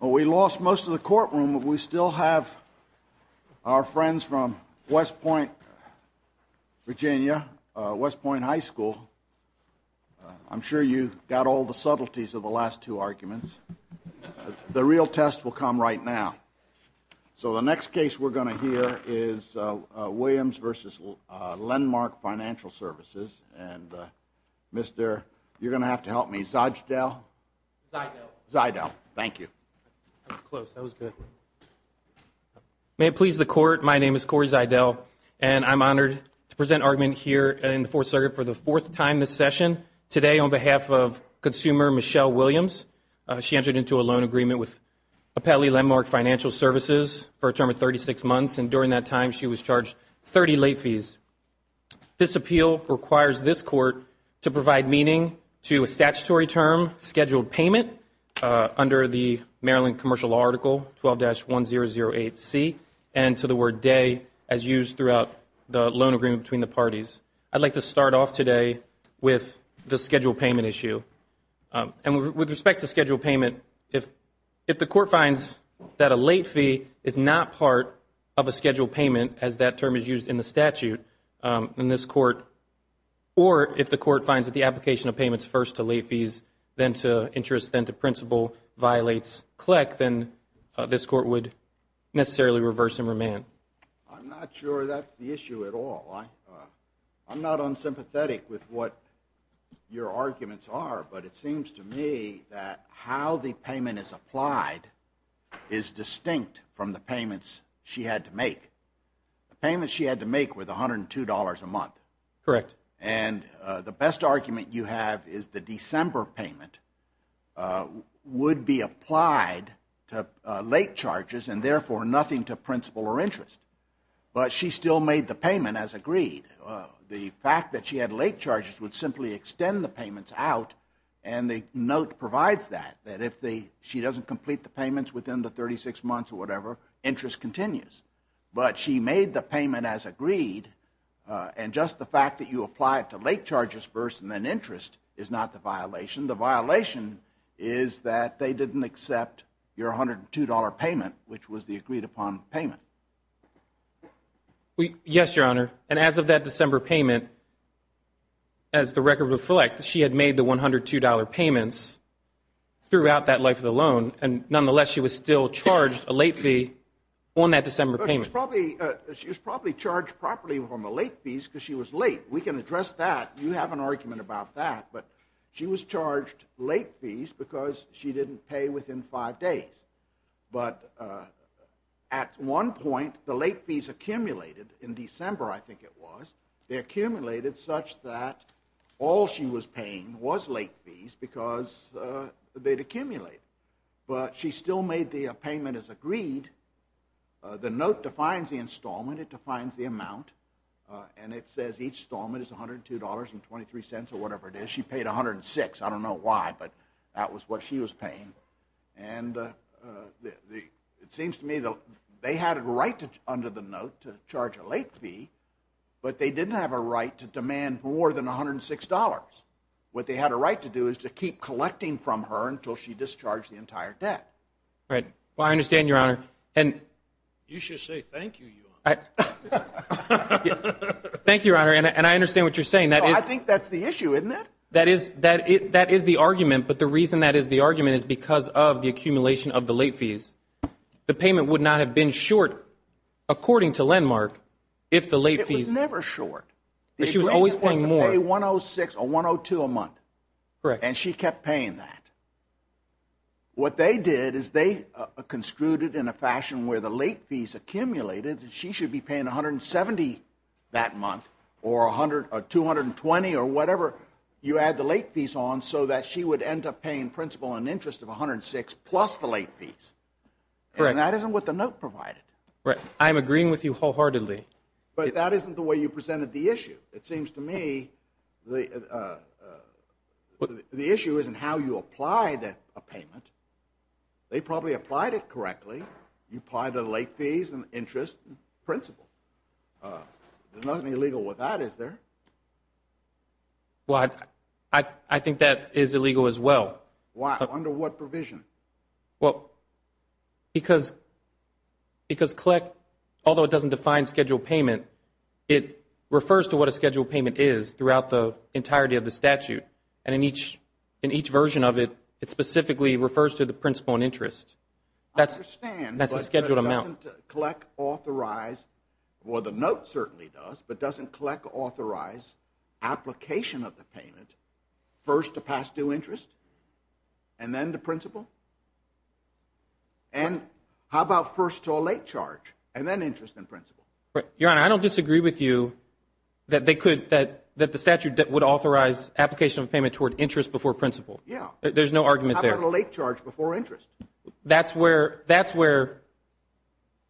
Well, we lost most of the courtroom, but we still have our friends from West Point, Virginia, West Point High School. I'm sure you got all the subtleties of the last two arguments. The real test will come right now. So the next case we're going to hear is Williams v. Lendmark Financial Services, and Mr. You're going to have to help me, Zajdel. Zajdel. Zajdel. Thank you. That was close. That was good. May it please the Court, my name is Corey Zajdel, and I'm honored to present argument here in the Fourth Circuit for the fourth time this session. Today on behalf of consumer Michelle Williams, she entered into a loan agreement with Appellee Lendmark Financial Services for a term of 36 months, and during that time she was charged 30 late fees. This appeal requires this Court to provide meaning to a statutory term, Scheduled Payment, under the Maryland Commercial Article 12-1008C, and to the word day as used throughout the loan agreement between the parties. I'd like to start off today with the Scheduled Payment issue. And with respect to Scheduled Payment, if the Court finds that a late fee is not part of a Scheduled Payment, as that term is used in the statute in this Court, or if the Court finds that the application of payments first to late fees, then to interest, then to principal, violates CLEC, then this Court would necessarily reverse and remand. I'm not sure that's the issue at all. I'm not unsympathetic with what your arguments are, but it seems to me that how the payment is applied is distinct from the payments she had to make. The payments she had to make were the $102 a month. Correct. And the best argument you have is the December payment would be applied to late charges and therefore nothing to principal or interest. But she still made the payment as agreed. The fact that she had late charges would simply extend the payments out, and the note provides that, that if she doesn't complete the payments within the 36 months or whatever, interest continues. But she made the payment as agreed, and just the fact that you apply it to late charges first and then interest is not the violation. The violation is that they didn't accept your $102 payment, which was the agreed upon payment. Yes, Your Honor. And as of that December payment, as the record reflects, she had made the $102 payments throughout that life of the loan, and nonetheless she was still charged a late fee on that December payment. She was probably charged properly on the late fees because she was late. We can address that. You have an argument about that. But she was charged late fees because she didn't pay within five days. But at one point, the late fees accumulated in December, I think it was, they accumulated such that all she was paying was late fees because they'd accumulate. But she still made the payment as agreed. The note defines the installment. It defines the amount. And it says each installment is $102.23 or whatever it is. She paid $106. I don't know why, but that was what she was paying. And it seems to me that they had it right under the note to charge a late fee, but they didn't have a right to demand more than $106. What they had a right to do is to keep collecting from her until she discharged the entire debt. Right. Well, I understand, Your Honor. You should say thank you, Your Honor. Thank you, Your Honor. And I understand what you're saying. I think that's the issue, isn't it? That is the argument. But the reason that is the argument is because of the accumulation of the late fees, the payment would not have been short, according to Landmark, if the late fees. It was never short. But she was always paying more. She was supposed to pay $106 or $102 a month. Correct. And she kept paying that. What they did is they construed it in a fashion where the late fees accumulated and she should be paying $170 that month or $220 or whatever you add the late fees on so that she would end up paying principal and interest of $106 plus the late fees. Correct. And that isn't what the note provided. Right. I'm agreeing with you wholeheartedly. But that isn't the way you presented the issue. It seems to me the issue isn't how you apply a payment. They probably applied it correctly. You apply the late fees and interest and principal. There's nothing illegal with that, is there? Well, I think that is illegal as well. Why? Under what provision? Well, because CLEC, although it doesn't define scheduled payment, it refers to what a scheduled payment is throughout the entirety of the statute. And in each version of it, it specifically refers to the principal and interest. I understand. That's a scheduled amount. But doesn't CLEC authorize, well, the note certainly does, but doesn't CLEC authorize application of the payment first to pass due interest and then the principal? And how about first to a late charge and then interest and principal? Your Honor, I don't disagree with you that they could, that the statute would authorize application of payment toward interest before principal. There's no argument there. How about a late charge before interest? That's where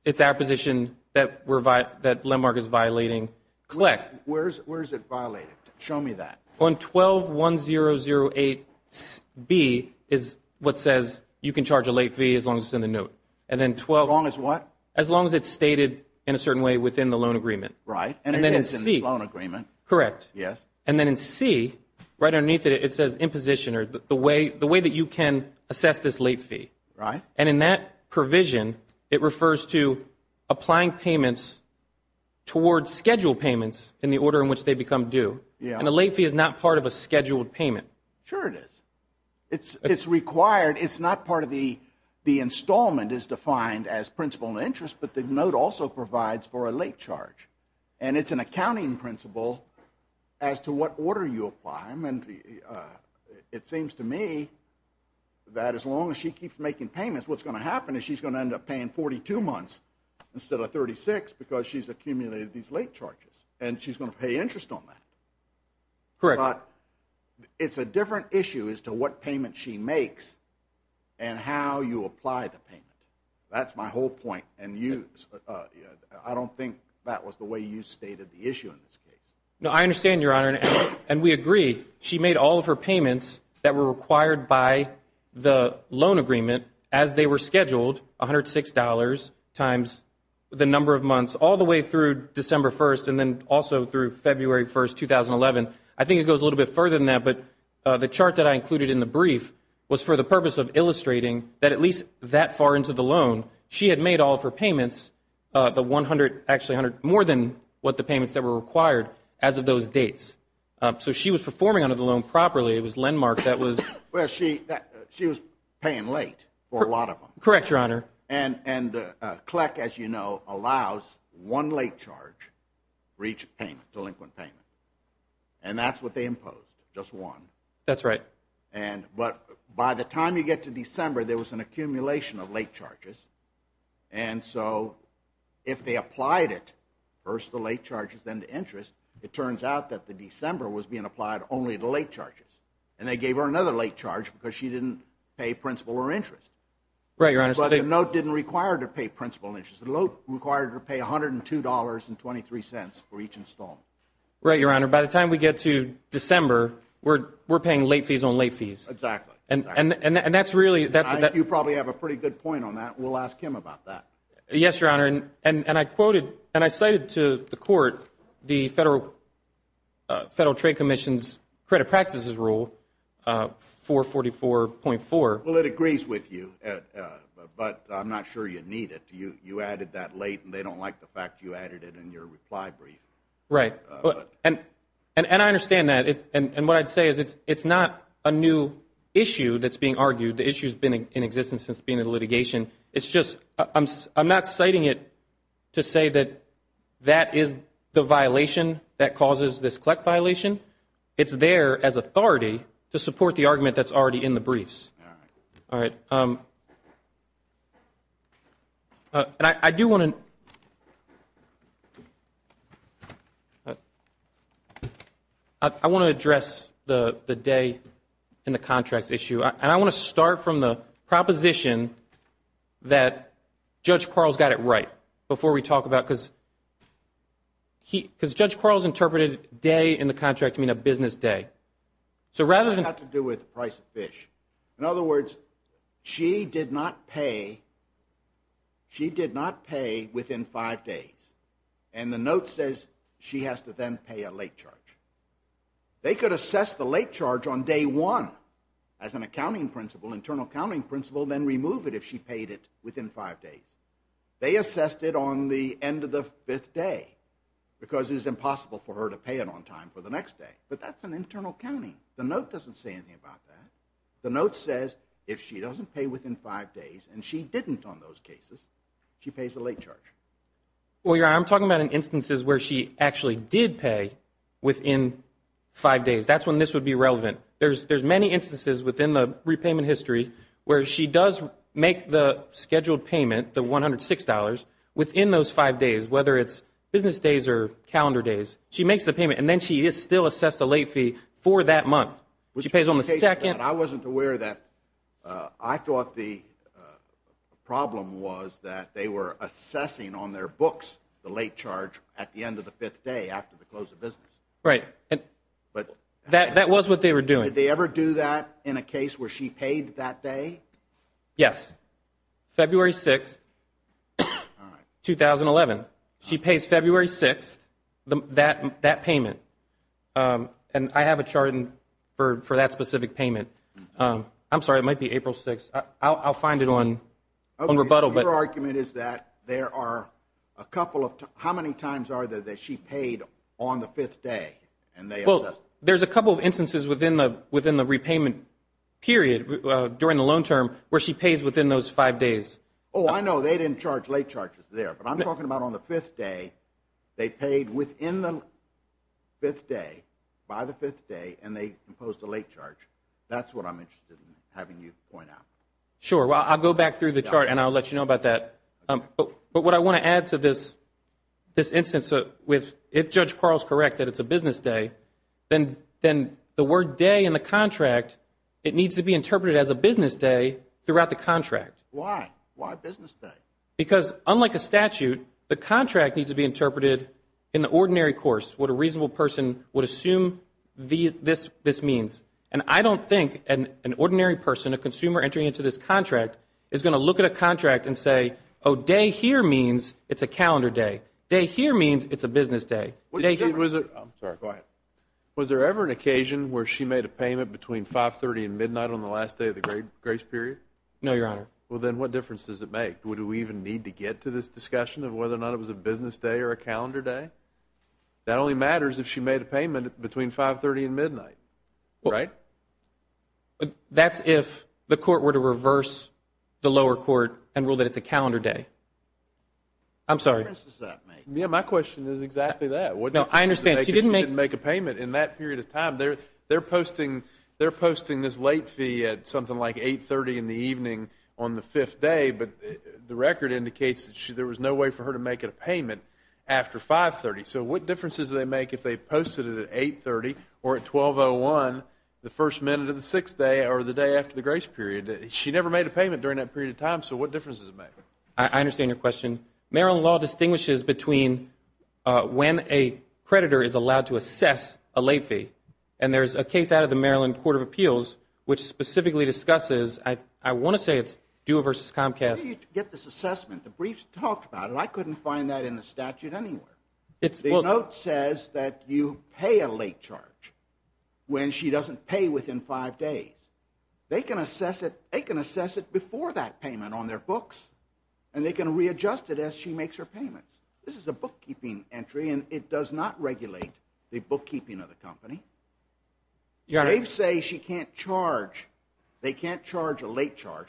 it's our position that Lendmark is violating CLEC. Where is it violated? Show me that. On 12-1008-B is what says you can charge a late fee as long as it's in the note. As long as what? As long as it's stated in a certain way within the loan agreement. Right. And it is in the loan agreement. Correct. Yes. And then in C, right underneath it, it says imposition or the way that you can assess this late fee. Right. And in that provision, it refers to applying payments towards scheduled payments in the order in which they become due. And a late fee is not part of a scheduled payment. Sure it is. It's required, it's not part of the, the installment is defined as principal and interest, but the note also provides for a late charge. And it's an accounting principle as to what order you apply them. And it seems to me that as long as she keeps making payments, what's going to happen is she's going to end up paying 42 months instead of 36 because she's accumulated these late charges. And she's going to pay interest on that. Correct. But it's a different issue as to what payment she makes and how you apply the payment. That's my whole point. And I don't think that was the way you stated the issue in this case. No, I understand, Your Honor, and we agree. She made all of her payments that were required by the loan agreement as they were scheduled, $106 times the number of months all the way through December 1st and then also through February 1st, 2011. I think it goes a little bit further than that, but the chart that I included in the brief was for the purpose of illustrating that at least that far into the loan she had made all of her payments, the 100, actually more than what the payments that were required as of those dates. So she was performing under the loan properly. It was landmark. She was paying late for a lot of them. Correct, Your Honor. And CLEC, as you know, allows one late charge for each delinquent payment. And that's what they imposed, just one. That's right. But by the time you get to December, there was an accumulation of late charges. And so if they applied it, first the late charges, then the interest, it turns out that the December was being applied only to late charges. And they gave her another late charge because she didn't pay principal or interest. Right, Your Honor. But the note didn't require her to pay principal or interest. The note required her to pay $102.23 for each installment. Right, Your Honor. By the time we get to December, we're paying late fees on late fees. Exactly. I think you probably have a pretty good point on that. We'll ask him about that. Yes, Your Honor. And I cited to the court the Federal Trade Commission's credit practices rule, 444.4. Well, it agrees with you, but I'm not sure you need it. You added that late, and they don't like the fact you added it in your reply brief. Right. And I understand that. And what I'd say is it's not a new issue that's being argued. The issue's been in existence since being in litigation. It's just I'm not citing it to say that that is the violation that causes this CLEC violation. It's there as authority to support the argument that's already in the briefs. All right. And I do want to address the day in the contracts issue. And I want to start from the proposition that Judge Carl's got it right before we talk about it, because Judge Carl's interpreted day in the contract to mean a business day. So rather than – It's got to do with the price of fish. In other words, she did not pay within five days. And the note says she has to then pay a late charge. They could assess the late charge on day one as an accounting principle, internal accounting principle, then remove it if she paid it within five days. They assessed it on the end of the fifth day, because it was impossible for her to pay it on time for the next day. But that's an internal counting. The note doesn't say anything about that. The note says if she doesn't pay within five days, and she didn't on those cases, she pays a late charge. Well, Your Honor, I'm talking about instances where she actually did pay within five days. That's when this would be relevant. There's many instances within the repayment history where she does make the scheduled payment, the $106, within those five days, whether it's business days or calendar days. She makes the payment, and then she is still assessed a late fee for that month. She pays on the second. I wasn't aware of that. I thought the problem was that they were assessing on their books the late charge at the end of the fifth day after the close of business. Right. But that was what they were doing. Did they ever do that in a case where she paid that day? Yes. February 6th, 2011. She pays February 6th, that payment. And I have a chart for that specific payment. I'm sorry. It might be April 6th. I'll find it on rebuttal. Your argument is that there are a couple of times. How many times are there that she paid on the fifth day? Well, there's a couple of instances within the repayment period during the loan term where she pays within those five days. Oh, I know. They didn't charge late charges there. But I'm talking about on the fifth day. They paid within the fifth day, by the fifth day, and they imposed a late charge. That's what I'm interested in having you point out. Sure. Well, I'll go back through the chart and I'll let you know about that. But what I want to add to this instance with if Judge Carl is correct that it's a business day, then the word day in the contract, it needs to be interpreted as a business day throughout the contract. Why? Why business day? Because unlike a statute, the contract needs to be interpreted in the ordinary course, what a reasonable person would assume this means. And I don't think an ordinary person, a consumer entering into this contract, is going to look at a contract and say, oh, day here means it's a calendar day. Day here means it's a business day. Was there ever an occasion where she made a payment between 530 and midnight on the last day of the grace period? No, Your Honor. Well, then what difference does it make? Would we even need to get to this discussion of whether or not it was a business day or a calendar day? That only matters if she made a payment between 530 and midnight, right? That's if the court were to reverse the lower court and rule that it's a calendar day. I'm sorry. What difference does that make? My question is exactly that. No, I understand. She didn't make a payment in that period of time. They're posting this late fee at something like 8.30 in the evening on the fifth day, but the record indicates that there was no way for her to make a payment after 5.30. So what difference does it make if they posted it at 8.30 or at 12.01, the first minute of the sixth day or the day after the grace period? She never made a payment during that period of time, so what difference does it make? I understand your question. Maryland law distinguishes between when a creditor is allowed to assess a late fee, and there's a case out of the Maryland Court of Appeals which specifically discusses, I want to say it's Dua v. Comcast. You get this assessment. The briefs talked about it. I couldn't find that in the statute anywhere. The note says that you pay a late charge when she doesn't pay within five days. They can assess it before that payment on their books, and they can readjust it as she makes her payments. This is a bookkeeping entry, and it does not regulate the bookkeeping of the company. They say she can't charge. They can't charge a late charge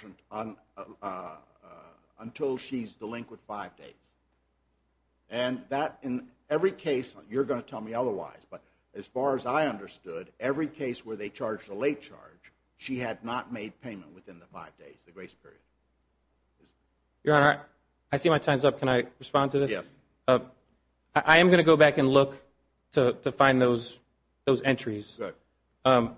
until she's delinquent five days. And that in every case, you're going to tell me otherwise, but as far as I understood, every case where they charged a late charge, she had not made payment within the five days, the grace period. Your Honor, I see my time's up. Can I respond to this? Yes. I am going to go back and look to find those entries. Good. Why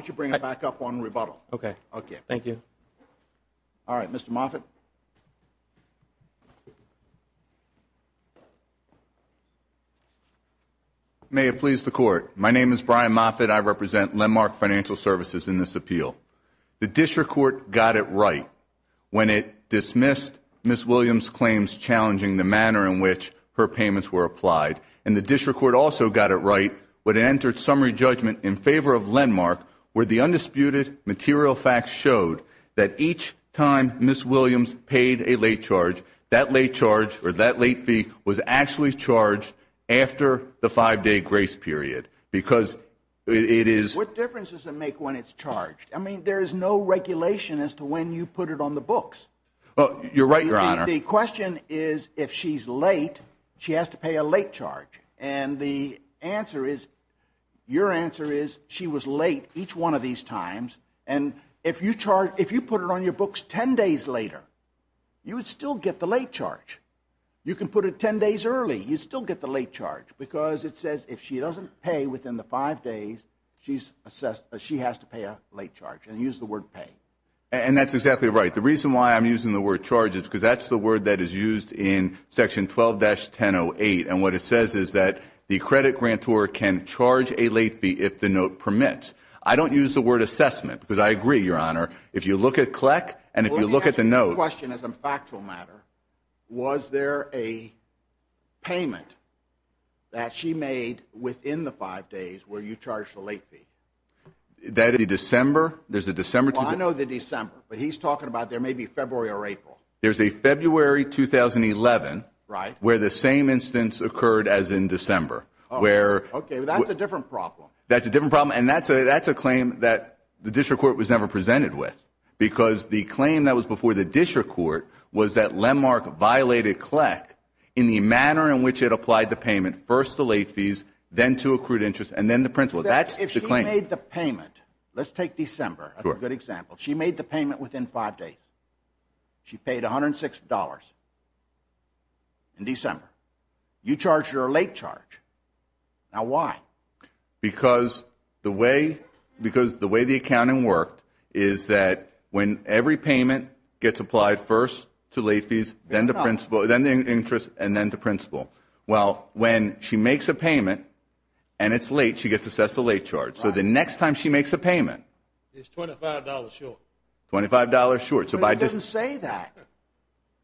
don't you bring it back up on rebuttal? Okay. Okay. Thank you. All right. Mr. Moffitt. May it please the Court. My name is Brian Moffitt. I represent Lendmark Financial Services in this appeal. The district court got it right when it dismissed Ms. Williams' claims challenging the manner in which her payments were applied, and the district court also got it right when it entered summary judgment in favor of Lendmark where the undisputed material facts showed that each time Ms. Williams paid a late charge, that late charge or that late fee was actually charged after the five-day grace period because it is. What difference does it make when it's charged? I mean, there is no regulation as to when you put it on the books. You're right, Your Honor. The question is if she's late, she has to pay a late charge. And the answer is, your answer is she was late each one of these times, and if you put it on your books ten days later, you would still get the late charge. You can put it ten days early. You'd still get the late charge because it says if she doesn't pay within the five days, she has to pay a late charge and use the word pay. And that's exactly right. The reason why I'm using the word charge is because that's the word that is used in Section 12-1008, and what it says is that the credit grantor can charge a late fee if the note permits. I don't use the word assessment because I agree, Your Honor, if you look at CLEC and if you look at the note. Let me ask you a question as a factual matter. Was there a payment that she made within the five days where you charged a late fee? That is the December. I know the December, but he's talking about there may be February or April. There's a February 2011. Right. Where the same instance occurred as in December. Okay, but that's a different problem. That's a different problem, and that's a claim that the district court was never presented with because the claim that was before the district court was that LEMARC violated CLEC in the manner in which it applied the payment first to late fees, then to accrued interest, and then the principal. That's the claim. If she made the payment, let's take December as a good example. She made the payment within five days. She paid $106 in December. You charged her a late charge. Now, why? Because the way the accounting worked is that when every payment gets applied first to late fees, then the interest, and then the principal. Well, when she makes a payment and it's late, she gets assessed a late charge. So the next time she makes a payment. It's $25 short. $25 short. But it doesn't say that.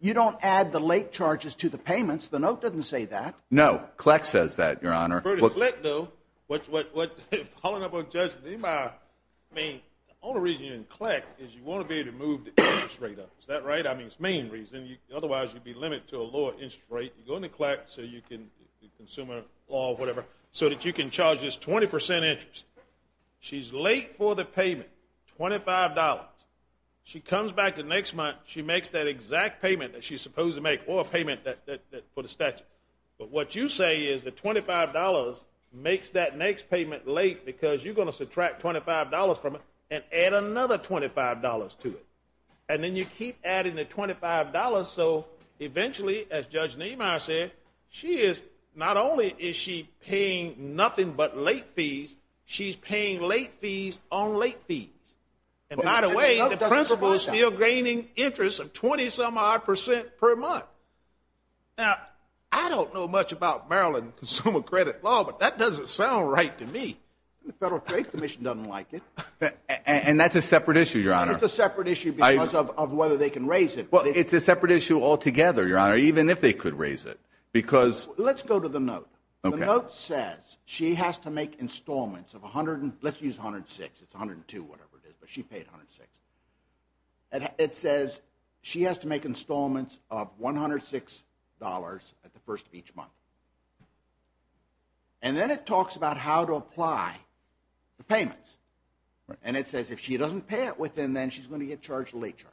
You don't add the late charges to the payments. The note doesn't say that. No. CLEC says that, Your Honor. For the CLEC, though, following up on Judge Niemeyer, I mean, the only reason you're in CLEC is you want to be able to move the interest rate up. Is that right? I mean, it's the main reason. Otherwise, you'd be limited to a lower interest rate. You go into CLEC so you can consumer law, whatever, so that you can charge this 20% interest. She's late for the payment, $25. She comes back the next month. She makes that exact payment that she's supposed to make or a payment for the statute. But what you say is that $25 makes that next payment late because you're going to subtract $25 from it and add another $25 to it. And then you keep adding the $25 so eventually, as Judge Niemeyer said, not only is she paying nothing but late fees, she's paying late fees on late fees. And by the way, the principal is still gaining interest of 20-some-odd percent per month. Now, I don't know much about Maryland Consumer Credit Law, but that doesn't sound right to me. The Federal Trade Commission doesn't like it. And that's a separate issue, Your Honor. And it's a separate issue because of whether they can raise it. Well, it's a separate issue altogether, Your Honor, even if they could raise it. Let's go to the note. The note says she has to make installments of $106. Let's use $106. It's $102, whatever it is, but she paid $106. It says she has to make installments of $106 at the first of each month. And then it talks about how to apply the payments. And it says if she doesn't pay it within then she's going to get charged a late charge.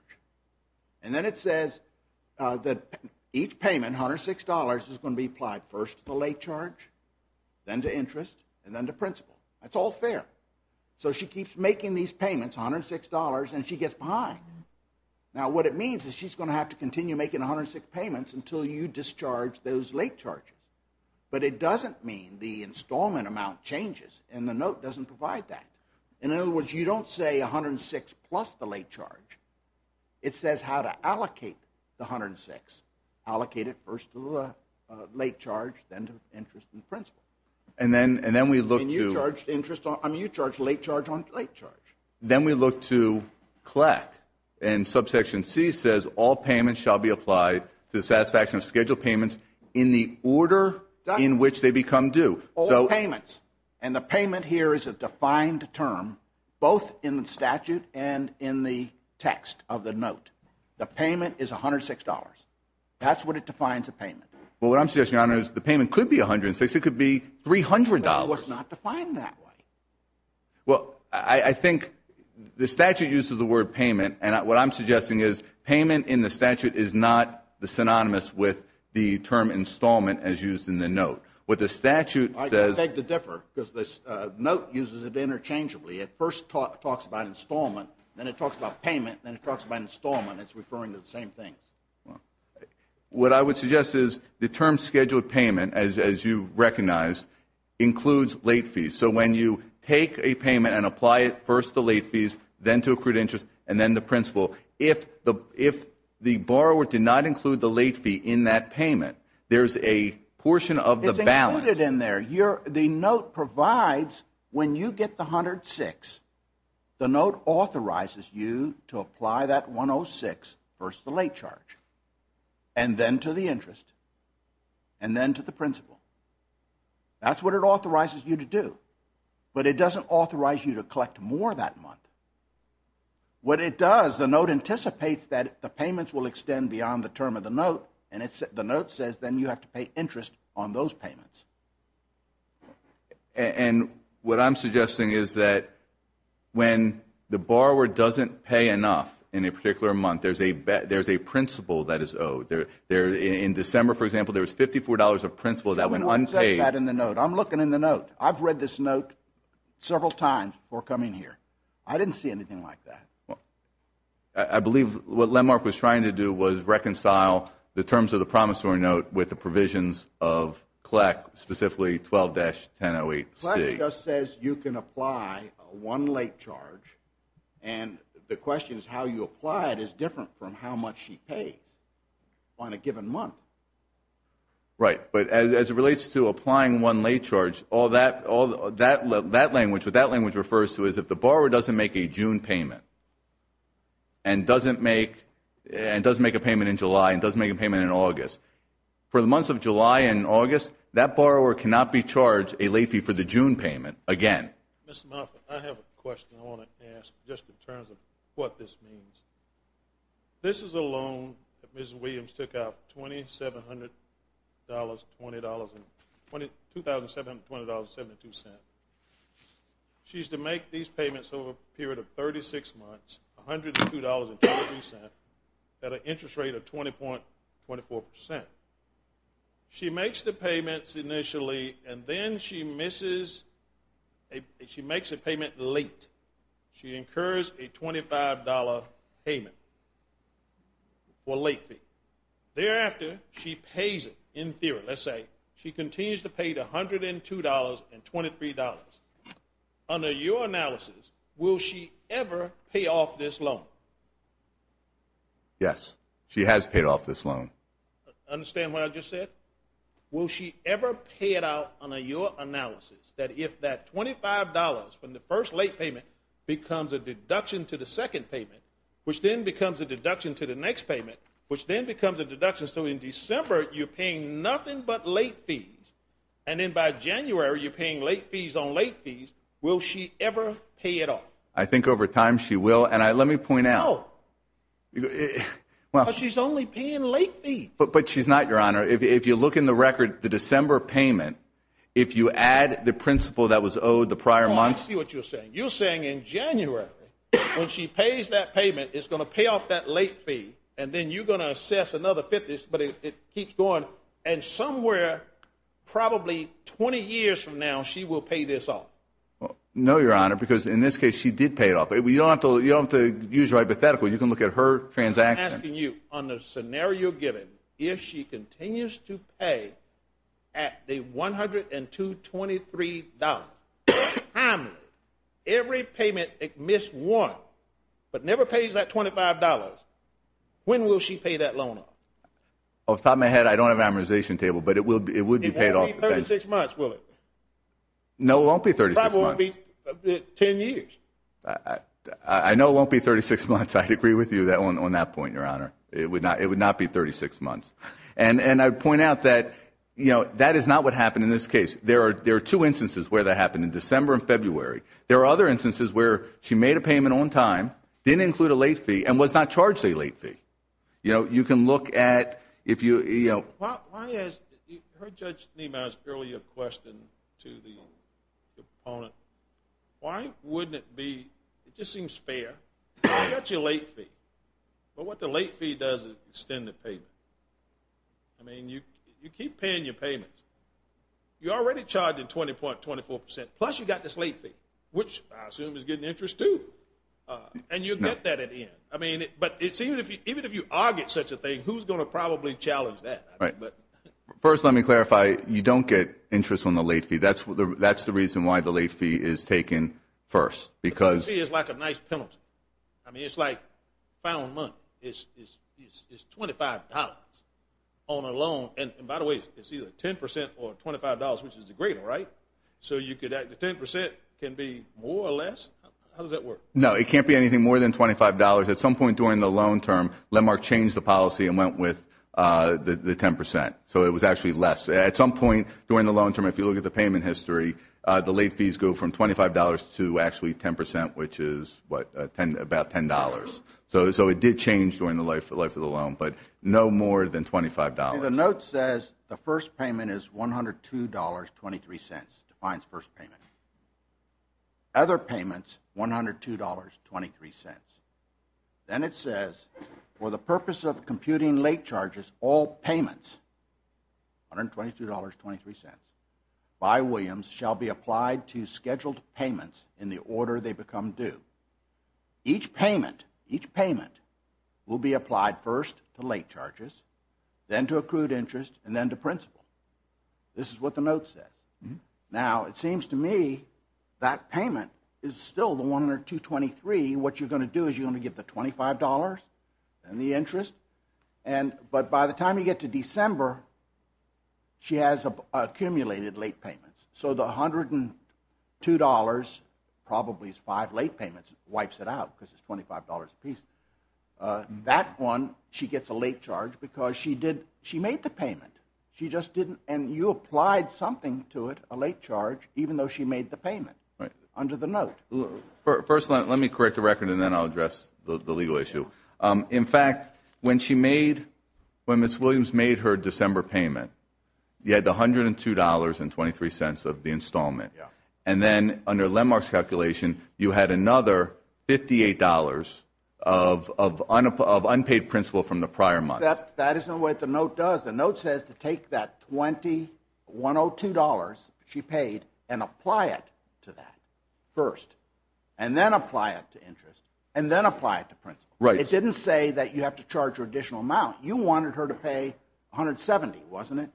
And then it says that each payment, $106, is going to be applied first to the late charge, then to interest, and then to principal. That's all fair. So she keeps making these payments, $106, and she gets behind. Now, what it means is she's going to have to continue making 106 payments until you discharge those late charges. But it doesn't mean the installment amount changes, and the note doesn't provide that. In other words, you don't say $106 plus the late charge. It says how to allocate the $106. Allocate it first to the late charge, then to interest and principal. And you charge late charge on late charge. Then we look to CLEC, and Subsection C says, All payments shall be applied to the satisfaction of scheduled payments in the order in which they become due. All payments. And the payment here is a defined term both in the statute and in the text of the note. The payment is $106. That's what it defines a payment. Well, what I'm suggesting, Your Honor, is the payment could be $106. It could be $300. But it was not defined that way. Well, I think the statute uses the word payment, and what I'm suggesting is payment in the statute is not synonymous with the term installment as used in the note. What the statute says ---- I beg to differ because the note uses it interchangeably. It first talks about installment. Then it talks about payment. Then it talks about installment. It's referring to the same thing. What I would suggest is the term scheduled payment, as you recognize, includes late fees. So when you take a payment and apply it first to late fees, then to accrued interest, and then the principal, if the borrower did not include the late fee in that payment, there's a portion of the balance. It's included in there. The note provides when you get the $106, the note authorizes you to apply that $106 first to the late charge, and then to the interest, and then to the principal. That's what it authorizes you to do, but it doesn't authorize you to collect more that month. What it does, the note anticipates that the payments will extend beyond the term of the note, and the note says then you have to pay interest on those payments. And what I'm suggesting is that when the borrower doesn't pay enough in a particular month, there's a principal that is owed. In December, for example, there was $54 of principal that went unpaid. I'm looking in the note. I've read this note several times before coming here. I didn't see anything like that. I believe what Lenmark was trying to do was reconcile the terms of the promissory note with the provisions of CLEC, specifically 12-1008C. CLEC just says you can apply one late charge, and the question is how you apply it is different from how much she pays on a given month. Right, but as it relates to applying one late charge, what that language refers to is if the borrower doesn't make a June payment and doesn't make a payment in July and doesn't make a payment in August, for the months of July and August, that borrower cannot be charged a late fee for the June payment again. Mr. Moffitt, I have a question I want to ask just in terms of what this means. This is a loan that Mrs. Williams took out, $2,720.72. She used to make these payments over a period of 36 months, $102.23, at an interest rate of 20.24%. She makes the payments initially, and then she makes a payment late. She incurs a $25 payment or late fee. Thereafter, she pays it in theory. Let's say she continues to pay the $102.23. Under your analysis, will she ever pay off this loan? Yes, she has paid off this loan. Understand what I just said? Will she ever pay it out under your analysis that if that $25 from the first late payment becomes a deduction to the second payment, which then becomes a deduction to the next payment, which then becomes a deduction, so in December, you're paying nothing but late fees, and then by January, you're paying late fees on late fees. Will she ever pay it off? I think over time she will, and let me point out. She's only paying late fees. But she's not, Your Honor. If you look in the record, the December payment, if you add the principal that was owed the prior month. I see what you're saying. You're saying in January, when she pays that payment, it's going to pay off that late fee, and then you're going to assess another $50, but it keeps going, and somewhere probably 20 years from now, she will pay this off. No, Your Honor, because in this case, she did pay it off. You don't have to use your hypothetical. You can look at her transaction. I'm asking you on the scenario given, if she continues to pay at the $102.23, every payment it missed one, but never pays that $25, when will she pay that loan off? Off the top of my head, I don't have an amortization table, but it would be paid off. It won't be 36 months, will it? No, it won't be 36 months. It probably won't be 10 years. I know it won't be 36 months. I'd agree with you on that point, Your Honor. It would not be 36 months. And I'd point out that that is not what happened in this case. There are two instances where that happened, in December and February. There are other instances where she made a payment on time, didn't include a late fee, and was not charged a late fee. You can look at if you – Why is – I heard Judge Niemeyer's earlier question to the opponent. Why wouldn't it be – it just seems fair. You got your late fee, but what the late fee does is extend the payment. I mean, you keep paying your payments. You already charged a 20.24%, plus you got this late fee, which I assume is getting interest too. And you'll get that at the end. I mean, but even if you are getting such a thing, who's going to probably challenge that? First, let me clarify, you don't get interest on the late fee. That's the reason why the late fee is taken first, because – The late fee is like a nice penalty. I mean, it's like found money. It's $25 on a loan. And, by the way, it's either 10% or $25, which is the greater, right? So you could – 10% can be more or less? How does that work? No, it can't be anything more than $25. At some point during the loan term, Landmark changed the policy and went with the 10%. So it was actually less. At some point during the loan term, if you look at the payment history, the late fees go from $25 to actually 10%, which is, what, about $10. So it did change during the life of the loan, but no more than $25. The note says the first payment is $102.23, defines first payment. Other payments, $102.23. Then it says, for the purpose of computing late charges, all payments, $122.23, by Williams shall be applied to scheduled payments in the order they become due. Each payment will be applied first to late charges, then to accrued interest, and then to principal. This is what the note says. Now, it seems to me that payment is still the $102.23. What you're going to do is you're going to give the $25 and the interest. But by the time you get to December, she has accumulated late payments. So the $102, probably is five late payments, wipes it out because it's $25 apiece. That one, she gets a late charge because she made the payment. And you applied something to it, a late charge, even though she made the payment under the note. First, let me correct the record, and then I'll address the legal issue. In fact, when Ms. Williams made her December payment, you had the $102.23 of the installment. And then under Lenmark's calculation, you had another $58 of unpaid principal from the prior month. That is not what the note does. The note says to take that $20, $102 she paid, and apply it to that first, and then apply it to interest, and then apply it to principal. It didn't say that you have to charge her an additional amount. You wanted her to pay $170, wasn't it?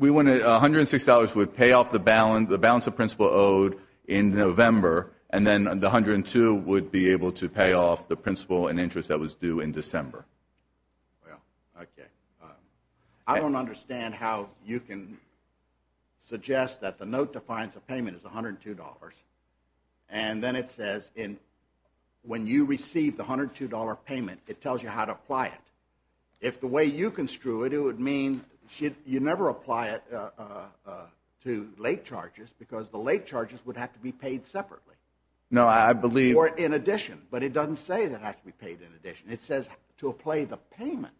$106 would pay off the balance the principal owed in November, and then the $102 would be able to pay off the principal and interest that was due in December. Well, okay. I don't understand how you can suggest that the note defines a payment as $102, and then it says when you receive the $102 payment, it tells you how to apply it. If the way you construe it, it would mean you never apply it to late charges, because the late charges would have to be paid separately. No, I believe— Or in addition. But it doesn't say that it has to be paid in addition. It says to apply the payment.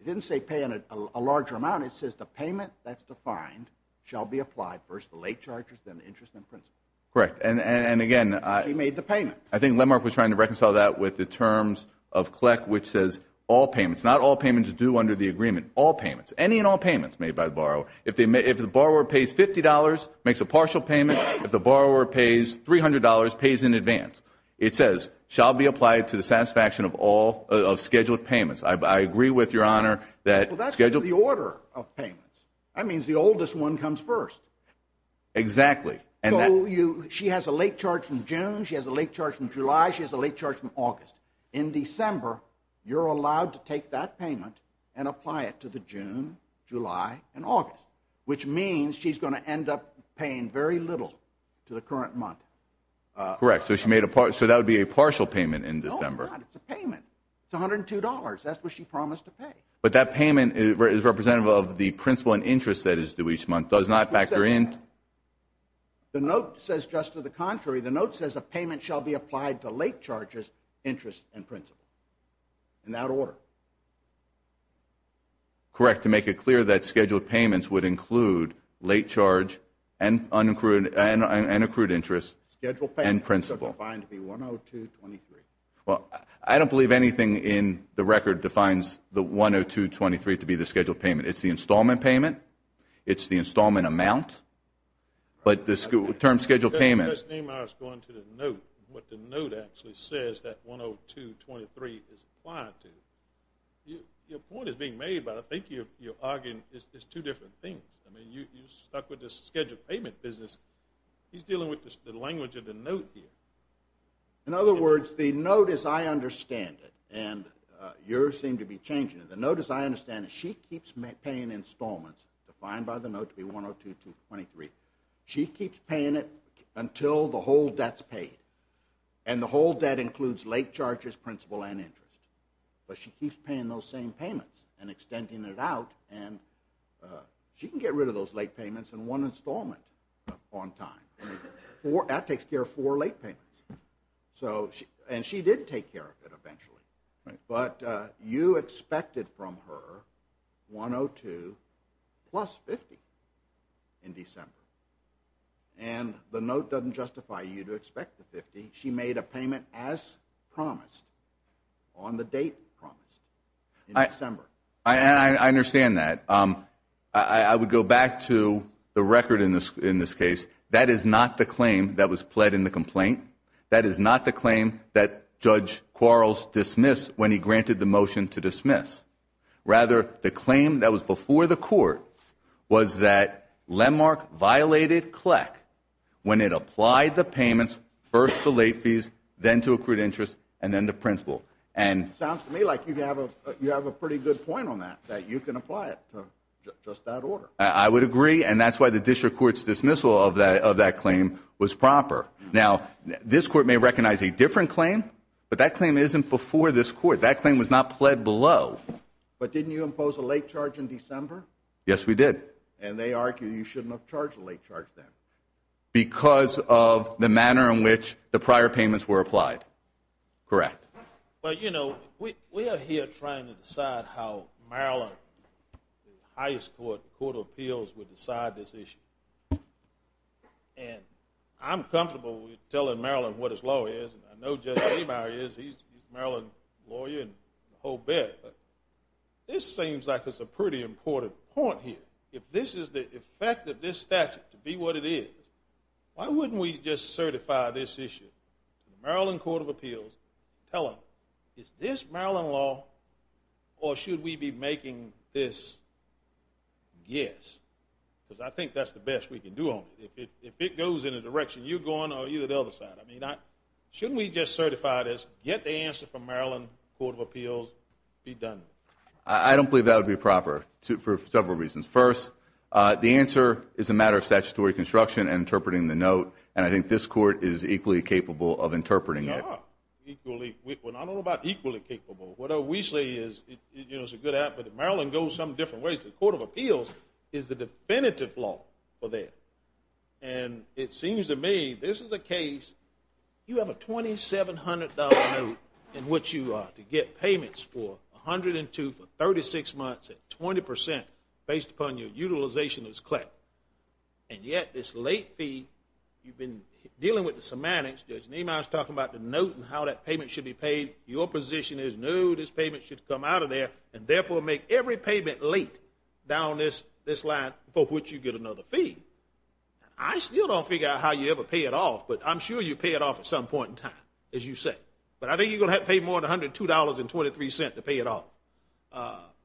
It didn't say pay in a larger amount. It says the payment that's defined shall be applied first to late charges, then interest and principal. Correct. And again— She made the payment. I think Lenmark was trying to reconcile that with the terms of CLEC, which says all payments. Not all payments are due under the agreement. All payments. Any and all payments made by the borrower. If the borrower pays $50, makes a partial payment. If the borrower pays $300, pays in advance. It says shall be applied to the satisfaction of scheduled payments. I agree with Your Honor that— Well, that's the order of payments. That means the oldest one comes first. Exactly. She has a late charge from June. She has a late charge from July. She has a late charge from August. In December, you're allowed to take that payment and apply it to the June, July, and August, which means she's going to end up paying very little to the current month. Correct. So that would be a partial payment in December. No, it's not. It's a payment. It's $102. That's what she promised to pay. But that payment is representative of the principal and interest that is due each month. It does not factor in— The note says just to the contrary. The note says a payment shall be applied to late charges, interest, and principal. In that order. Correct. To make it clear that scheduled payments would include late charge and accrued interest and principal. Scheduled payments are defined to be $102.23. I don't believe anything in the record defines the $102.23 to be the scheduled payment. It's the installment payment. It's the installment amount. But the term scheduled payment— I was going to the note. What the note actually says, that $102.23 is applied to. Your point is being made, but I think you're arguing it's two different things. I mean, you're stuck with this scheduled payment business. He's dealing with the language of the note here. In other words, the note as I understand it— And yours seem to be changing. The note as I understand it, she keeps paying installments defined by the note to be $102.23. She keeps paying it until the whole debt's paid. And the whole debt includes late charges, principal, and interest. But she keeps paying those same payments and extending it out. And she can get rid of those late payments in one installment on time. That takes care of four late payments. And she did take care of it eventually. But you expected from her $102.23 plus $50.00 in December. And the note doesn't justify you to expect the $50.00. She made a payment as promised, on the date promised, in December. I understand that. I would go back to the record in this case. That is not the claim that was pled in the complaint. That is not the claim that Judge Quarles dismissed when he granted the motion to dismiss. Rather, the claim that was before the court was that Lendmark violated CLEC when it applied the payments first to late fees, then to accrued interest, and then to principal. Sounds to me like you have a pretty good point on that, that you can apply it to just that order. I would agree, and that's why the district court's dismissal of that claim was proper. Now, this court may recognize a different claim, but that claim isn't before this court. That claim was not pled below. But didn't you impose a late charge in December? Yes, we did. And they argue you shouldn't have charged a late charge then. Because of the manner in which the prior payments were applied. Correct. Well, you know, we are here trying to decide how Maryland, the highest court, the Court of Appeals, would decide this issue. And I'm comfortable with telling Maryland what its law is. I know Judge Ameyer is. He's a Maryland lawyer and the whole bit. But this seems like it's a pretty important point here. If this is the effect of this statute to be what it is, why wouldn't we just certify this issue to the Maryland Court of Appeals, tell them, is this Maryland law or should we be making this? Yes. Because I think that's the best we can do on it. If it goes in the direction you're going or either the other side, shouldn't we just certify this, get the answer from Maryland Court of Appeals, be done? I don't believe that would be proper for several reasons. First, the answer is a matter of statutory construction and interpreting the note, and I think this court is equally capable of interpreting it. Yeah, equally. I don't know about equally capable. What O'Weasley is, it's a good app, but if Maryland goes some different ways, the Court of Appeals is the definitive law for that. And it seems to me this is a case, you have a $2,700 note in which you get payments for 102 for 36 months at 20% based upon your utilization as clerk, and yet this late fee, you've been dealing with the semantics. Judge Niemeyer is talking about the note and how that payment should be paid. Your position is, no, this payment should come out of there and therefore make every payment late down this line for which you get another fee. I still don't figure out how you ever pay it off, but I'm sure you pay it off at some point in time, as you say. But I think you're going to have to pay more than $102.23 to pay it off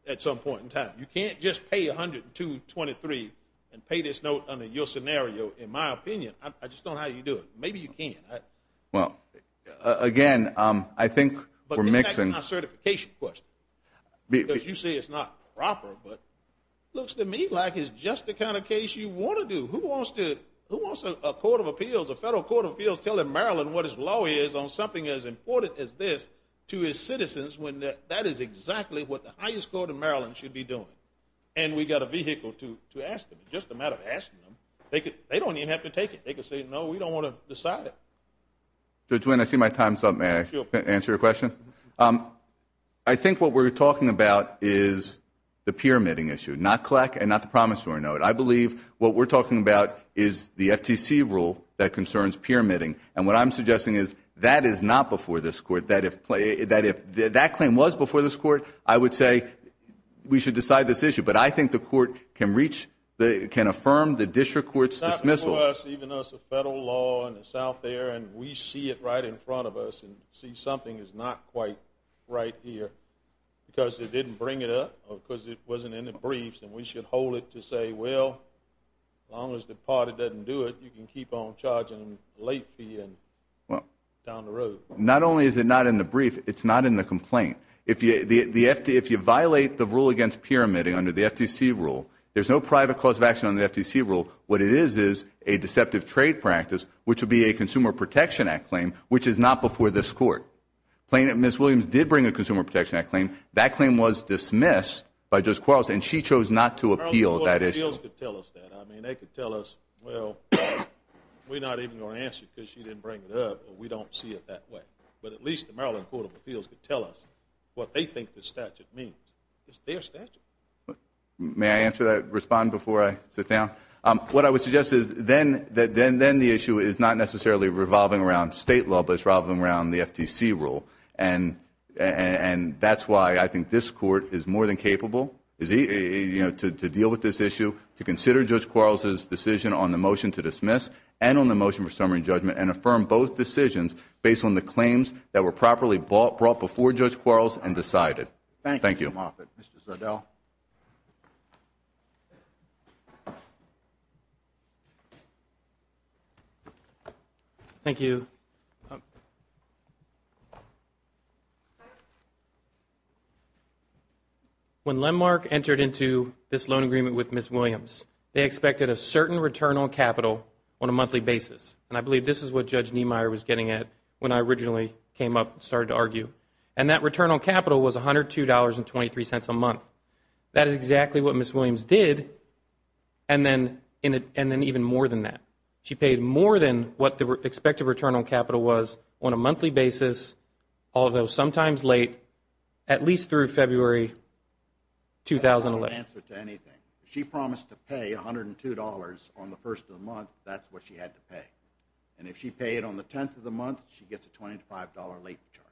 at some point in time. You can't just pay $102.23 and pay this note under your scenario, in my opinion. I just don't know how you do it. Maybe you can. Well, again, I think we're mixing. But that's not a certification question because you say it's not proper, but it looks to me like it's just the kind of case you want to do. Who wants a Court of Appeals, a federal Court of Appeals, telling Maryland what its law is on something as important as this to its citizens when that is exactly what the highest court in Maryland should be doing? And we've got a vehicle to ask them. It's just a matter of asking them. They don't even have to take it. They can say, no, we don't want to decide it. So, Gwen, I see my time's up. May I answer your question? I think what we're talking about is the pyramiding issue, not CLEC and not the promissory note. I believe what we're talking about is the FTC rule that concerns pyramiding. And what I'm suggesting is that is not before this Court. That if that claim was before this Court, I would say we should decide this issue. But I think the Court can reach, can affirm the district court's dismissal. It's not before us, even though it's a federal law and it's out there and we see it right in front of us and see something is not quite right here because they didn't bring it up or because it wasn't in the briefs and we should hold it to say, well, as long as the party doesn't do it, you can keep on charging late fee and down the road. Not only is it not in the brief, it's not in the complaint. If you violate the rule against pyramiding under the FTC rule, there's no private cause of action under the FTC rule. What it is is a deceptive trade practice, which would be a Consumer Protection Act claim, which is not before this Court. Ms. Williams did bring a Consumer Protection Act claim. That claim was dismissed by Judge Quarles, and she chose not to appeal that issue. The Maryland Court of Appeals could tell us that. I mean, they could tell us, well, we're not even going to answer it because she didn't bring it up, but we don't see it that way. But at least the Maryland Court of Appeals could tell us what they think the statute means. It's their statute. May I answer that, respond before I sit down? What I would suggest is then the issue is not necessarily revolving around state law, but it's revolving around the FTC rule. And that's why I think this Court is more than capable to deal with this issue, to consider Judge Quarles' decision on the motion to dismiss and on the motion for summary judgment and affirm both decisions based on the claims that were properly brought before Judge Quarles and decided. Thank you. Thank you, Mr. Moffitt. Mr. Zardel. Thank you. Next. When Landmark entered into this loan agreement with Ms. Williams, they expected a certain return on capital on a monthly basis. And I believe this is what Judge Niemeyer was getting at when I originally came up and started to argue. And that return on capital was $102.23 a month. That is exactly what Ms. Williams did and then even more than that. She paid more than what the expected return on capital was on a monthly basis, although sometimes late, at least through February 2011. That's not an answer to anything. She promised to pay $102 on the first of the month. That's what she had to pay. And if she paid on the 10th of the month, she gets a $25 late charge.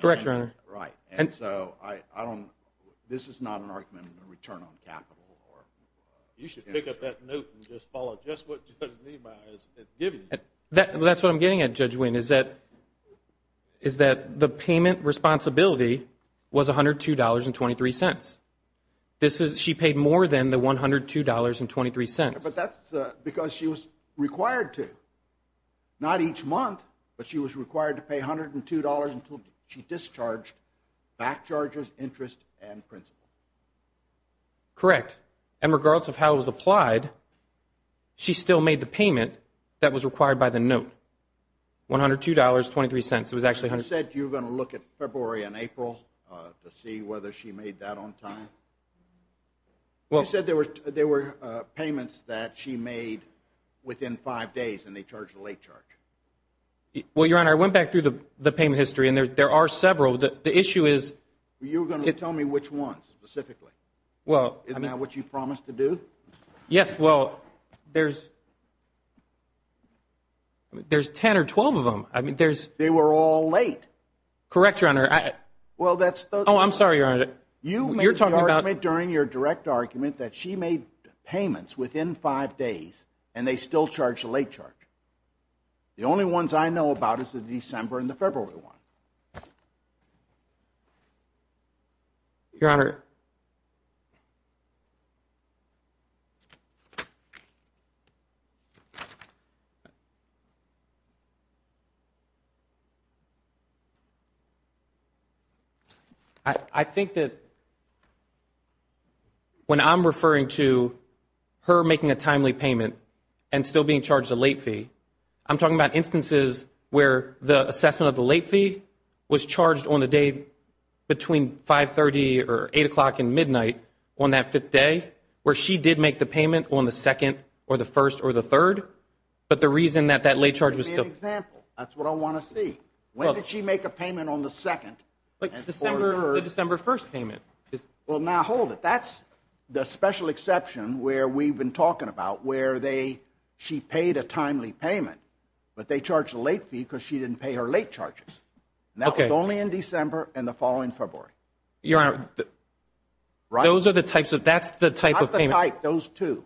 Correct, Your Honor. Right. And so this is not an argument of a return on capital. You should pick up that note and just follow just what Judge Niemeyer has given you. That's what I'm getting at, Judge Wayne, is that the payment responsibility was $102.23. She paid more than the $102.23. But that's because she was required to. Not each month, but she was required to pay $102 until she discharged back charges, interest, and principal. Correct. And regardless of how it was applied, she still made the payment that was required by the note, $102.23. It was actually $102.23. You said you were going to look at February and April to see whether she made that on time. You said there were payments that she made within five days, and they charged a late charge. Well, Your Honor, I went back through the payment history, and there are several. You were going to tell me which ones specifically. Isn't that what you promised to do? Yes, well, there's 10 or 12 of them. They were all late. Correct, Your Honor. Oh, I'm sorry, Your Honor. You made the argument during your direct argument that she made payments within five days, and they still charged a late charge. The only ones I know about is the December and the February one. Your Honor, I think that when I'm referring to her making a timely payment and still being charged a late fee, I'm talking about instances where the assessment of the late fee was charged on the day between 530 or 8 o'clock in the midnight on that fifth day, where she did make the payment on the second or the first or the third, but the reason that that late charge was still. Give me an example. That's what I want to see. When did she make a payment on the second? The December 1st payment. Well, now hold it. That's the special exception where we've been talking about where she paid a timely payment, but they charged a late fee because she didn't pay her late charges. That was only in December and the following February. Your Honor, that's the type of payment. Not the type, those two.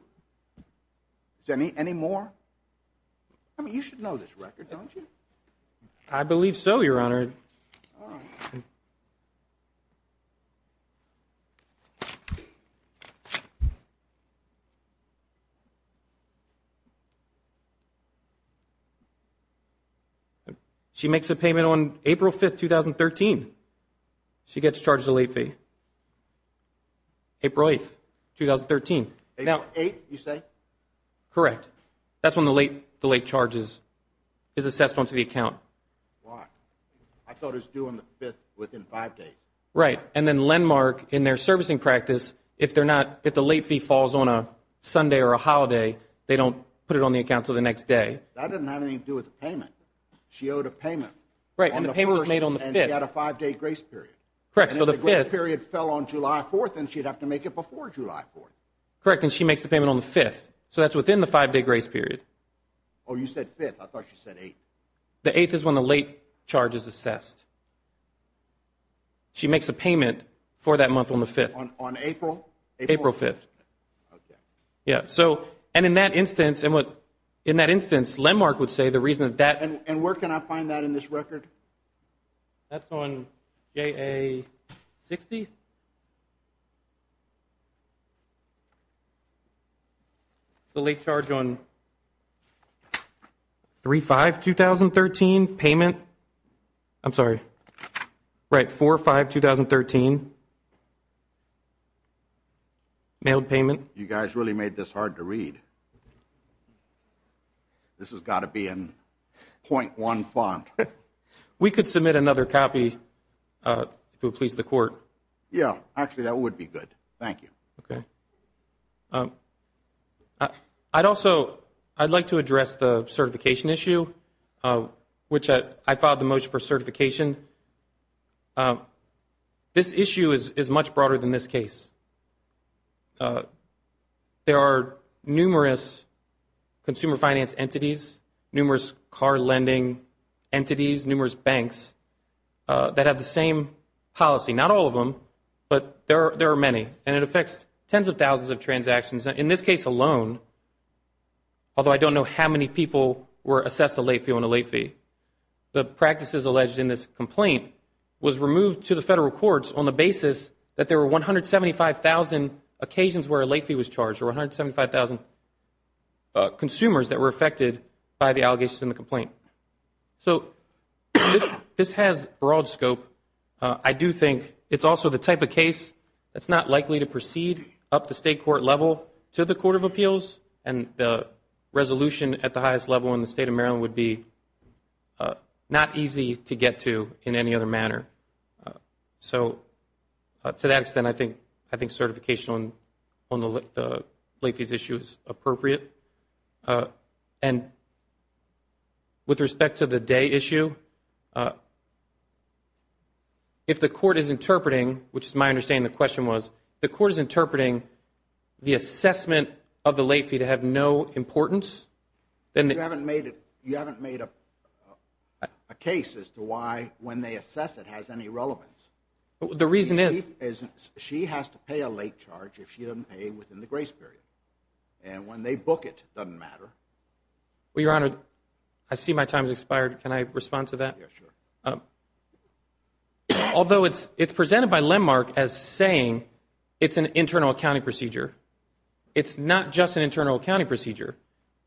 Any more? I mean, you should know this record, don't you? I believe so, Your Honor. All right. She makes a payment on April 5th, 2013. She gets charged a late fee. April 8th, 2013. April 8th, you say? Correct. That's when the late charge is assessed onto the account. Why? I thought it was due on the 5th, within five days. Right, and then landmark in their servicing practice, if the late fee falls on a Sunday or a holiday, they don't put it on the account until the next day. That doesn't have anything to do with the payment. She owed a payment. Right, and the payment was made on the 5th. And she had a five-day grace period. Correct, so the 5th. And if the grace period fell on July 4th, then she'd have to make it before July 4th. Correct, and she makes the payment on the 5th. So that's within the five-day grace period. Oh, you said 5th. I thought you said 8th. The 8th is when the late charge is assessed. She makes a payment for that month on the 5th. On April? April 5th. Okay. Yeah, so, and in that instance, landmark would say the reason that that. And where can I find that in this record? That's on JA-60. The late charge on 3-5-2013 payment. I'm sorry. Right, 4-5-2013. Mailed payment. You guys really made this hard to read. This has got to be in .1 font. We could submit another copy, if it would please the court. Yeah, actually, that would be good. Thank you. Okay. I'd also like to address the certification issue, which I filed the motion for certification. This issue is much broader than this case. There are numerous consumer finance entities, numerous car lending entities, numerous banks that have the same policy. Not all of them, but there are many. And it affects tens of thousands of transactions. In this case alone, although I don't know how many people were assessed a late fee on a late fee, the practices alleged in this complaint was removed to the federal courts on the basis that there were 175,000 occasions where a late fee was charged, or 175,000 consumers that were affected by the allegations in the complaint. So this has broad scope. I do think it's also the type of case that's not likely to proceed up the state court level to the Court of Appeals, and the resolution at the highest level in the State of Maryland would be not easy to get to in any other manner. So to that extent, I think certification on the late fees issue is appropriate. And with respect to the day issue, if the court is interpreting, which is my understanding the question was, the court is interpreting the assessment of the late fee to have no importance. You haven't made a case as to why when they assess it has any relevance. The reason is she has to pay a late charge if she doesn't pay within the grace period. And when they book it, it doesn't matter. Well, Your Honor, I see my time has expired. Can I respond to that? Yes, sure. Although it's presented by landmark as saying it's an internal accounting procedure, it's not just an internal accounting procedure.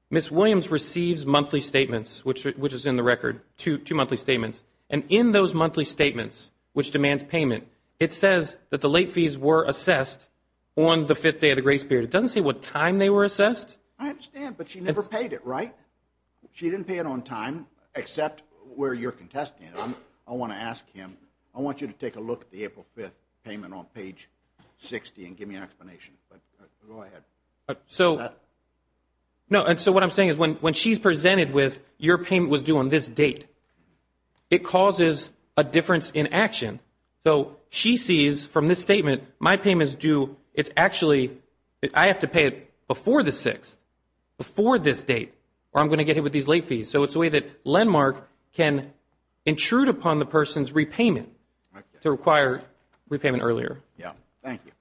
Ms. Williams receives monthly statements, which is in the record, two monthly statements. And in those monthly statements, which demands payment, it says that the late fees were assessed on the fifth day of the grace period. It doesn't say what time they were assessed. I understand, but she never paid it, right? She didn't pay it on time except where you're contesting it. I want to ask him, I want you to take a look at the April 5th payment on page 60 and give me an explanation. Go ahead. So what I'm saying is when she's presented with your payment was due on this date, it causes a difference in action. So she sees from this statement, my payment is due. It's actually I have to pay it before the 6th, before this date, or I'm going to get hit with these late fees. So it's a way that landmark can intrude upon the person's repayment to require repayment earlier. Yeah. Thank you.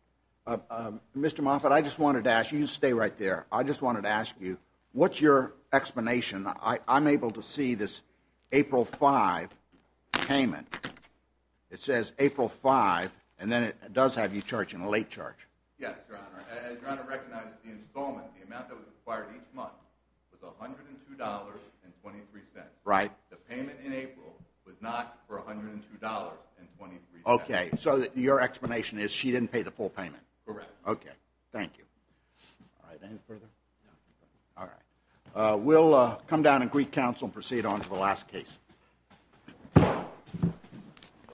Mr. Moffitt, I just wanted to ask you to stay right there. I just wanted to ask you, what's your explanation? I'm able to see this April 5 payment. It says April 5, and then it does have you charging a late charge. Yes, Your Honor. As Your Honor recognizes, the installment, the amount that was required each month, was $102.23. Right. The payment in April was not for $102.23. Okay. So your explanation is she didn't pay the full payment. Correct. Okay. Thank you. All right. Any further? No. All right. We'll come down in Greek Council and proceed on to the last case.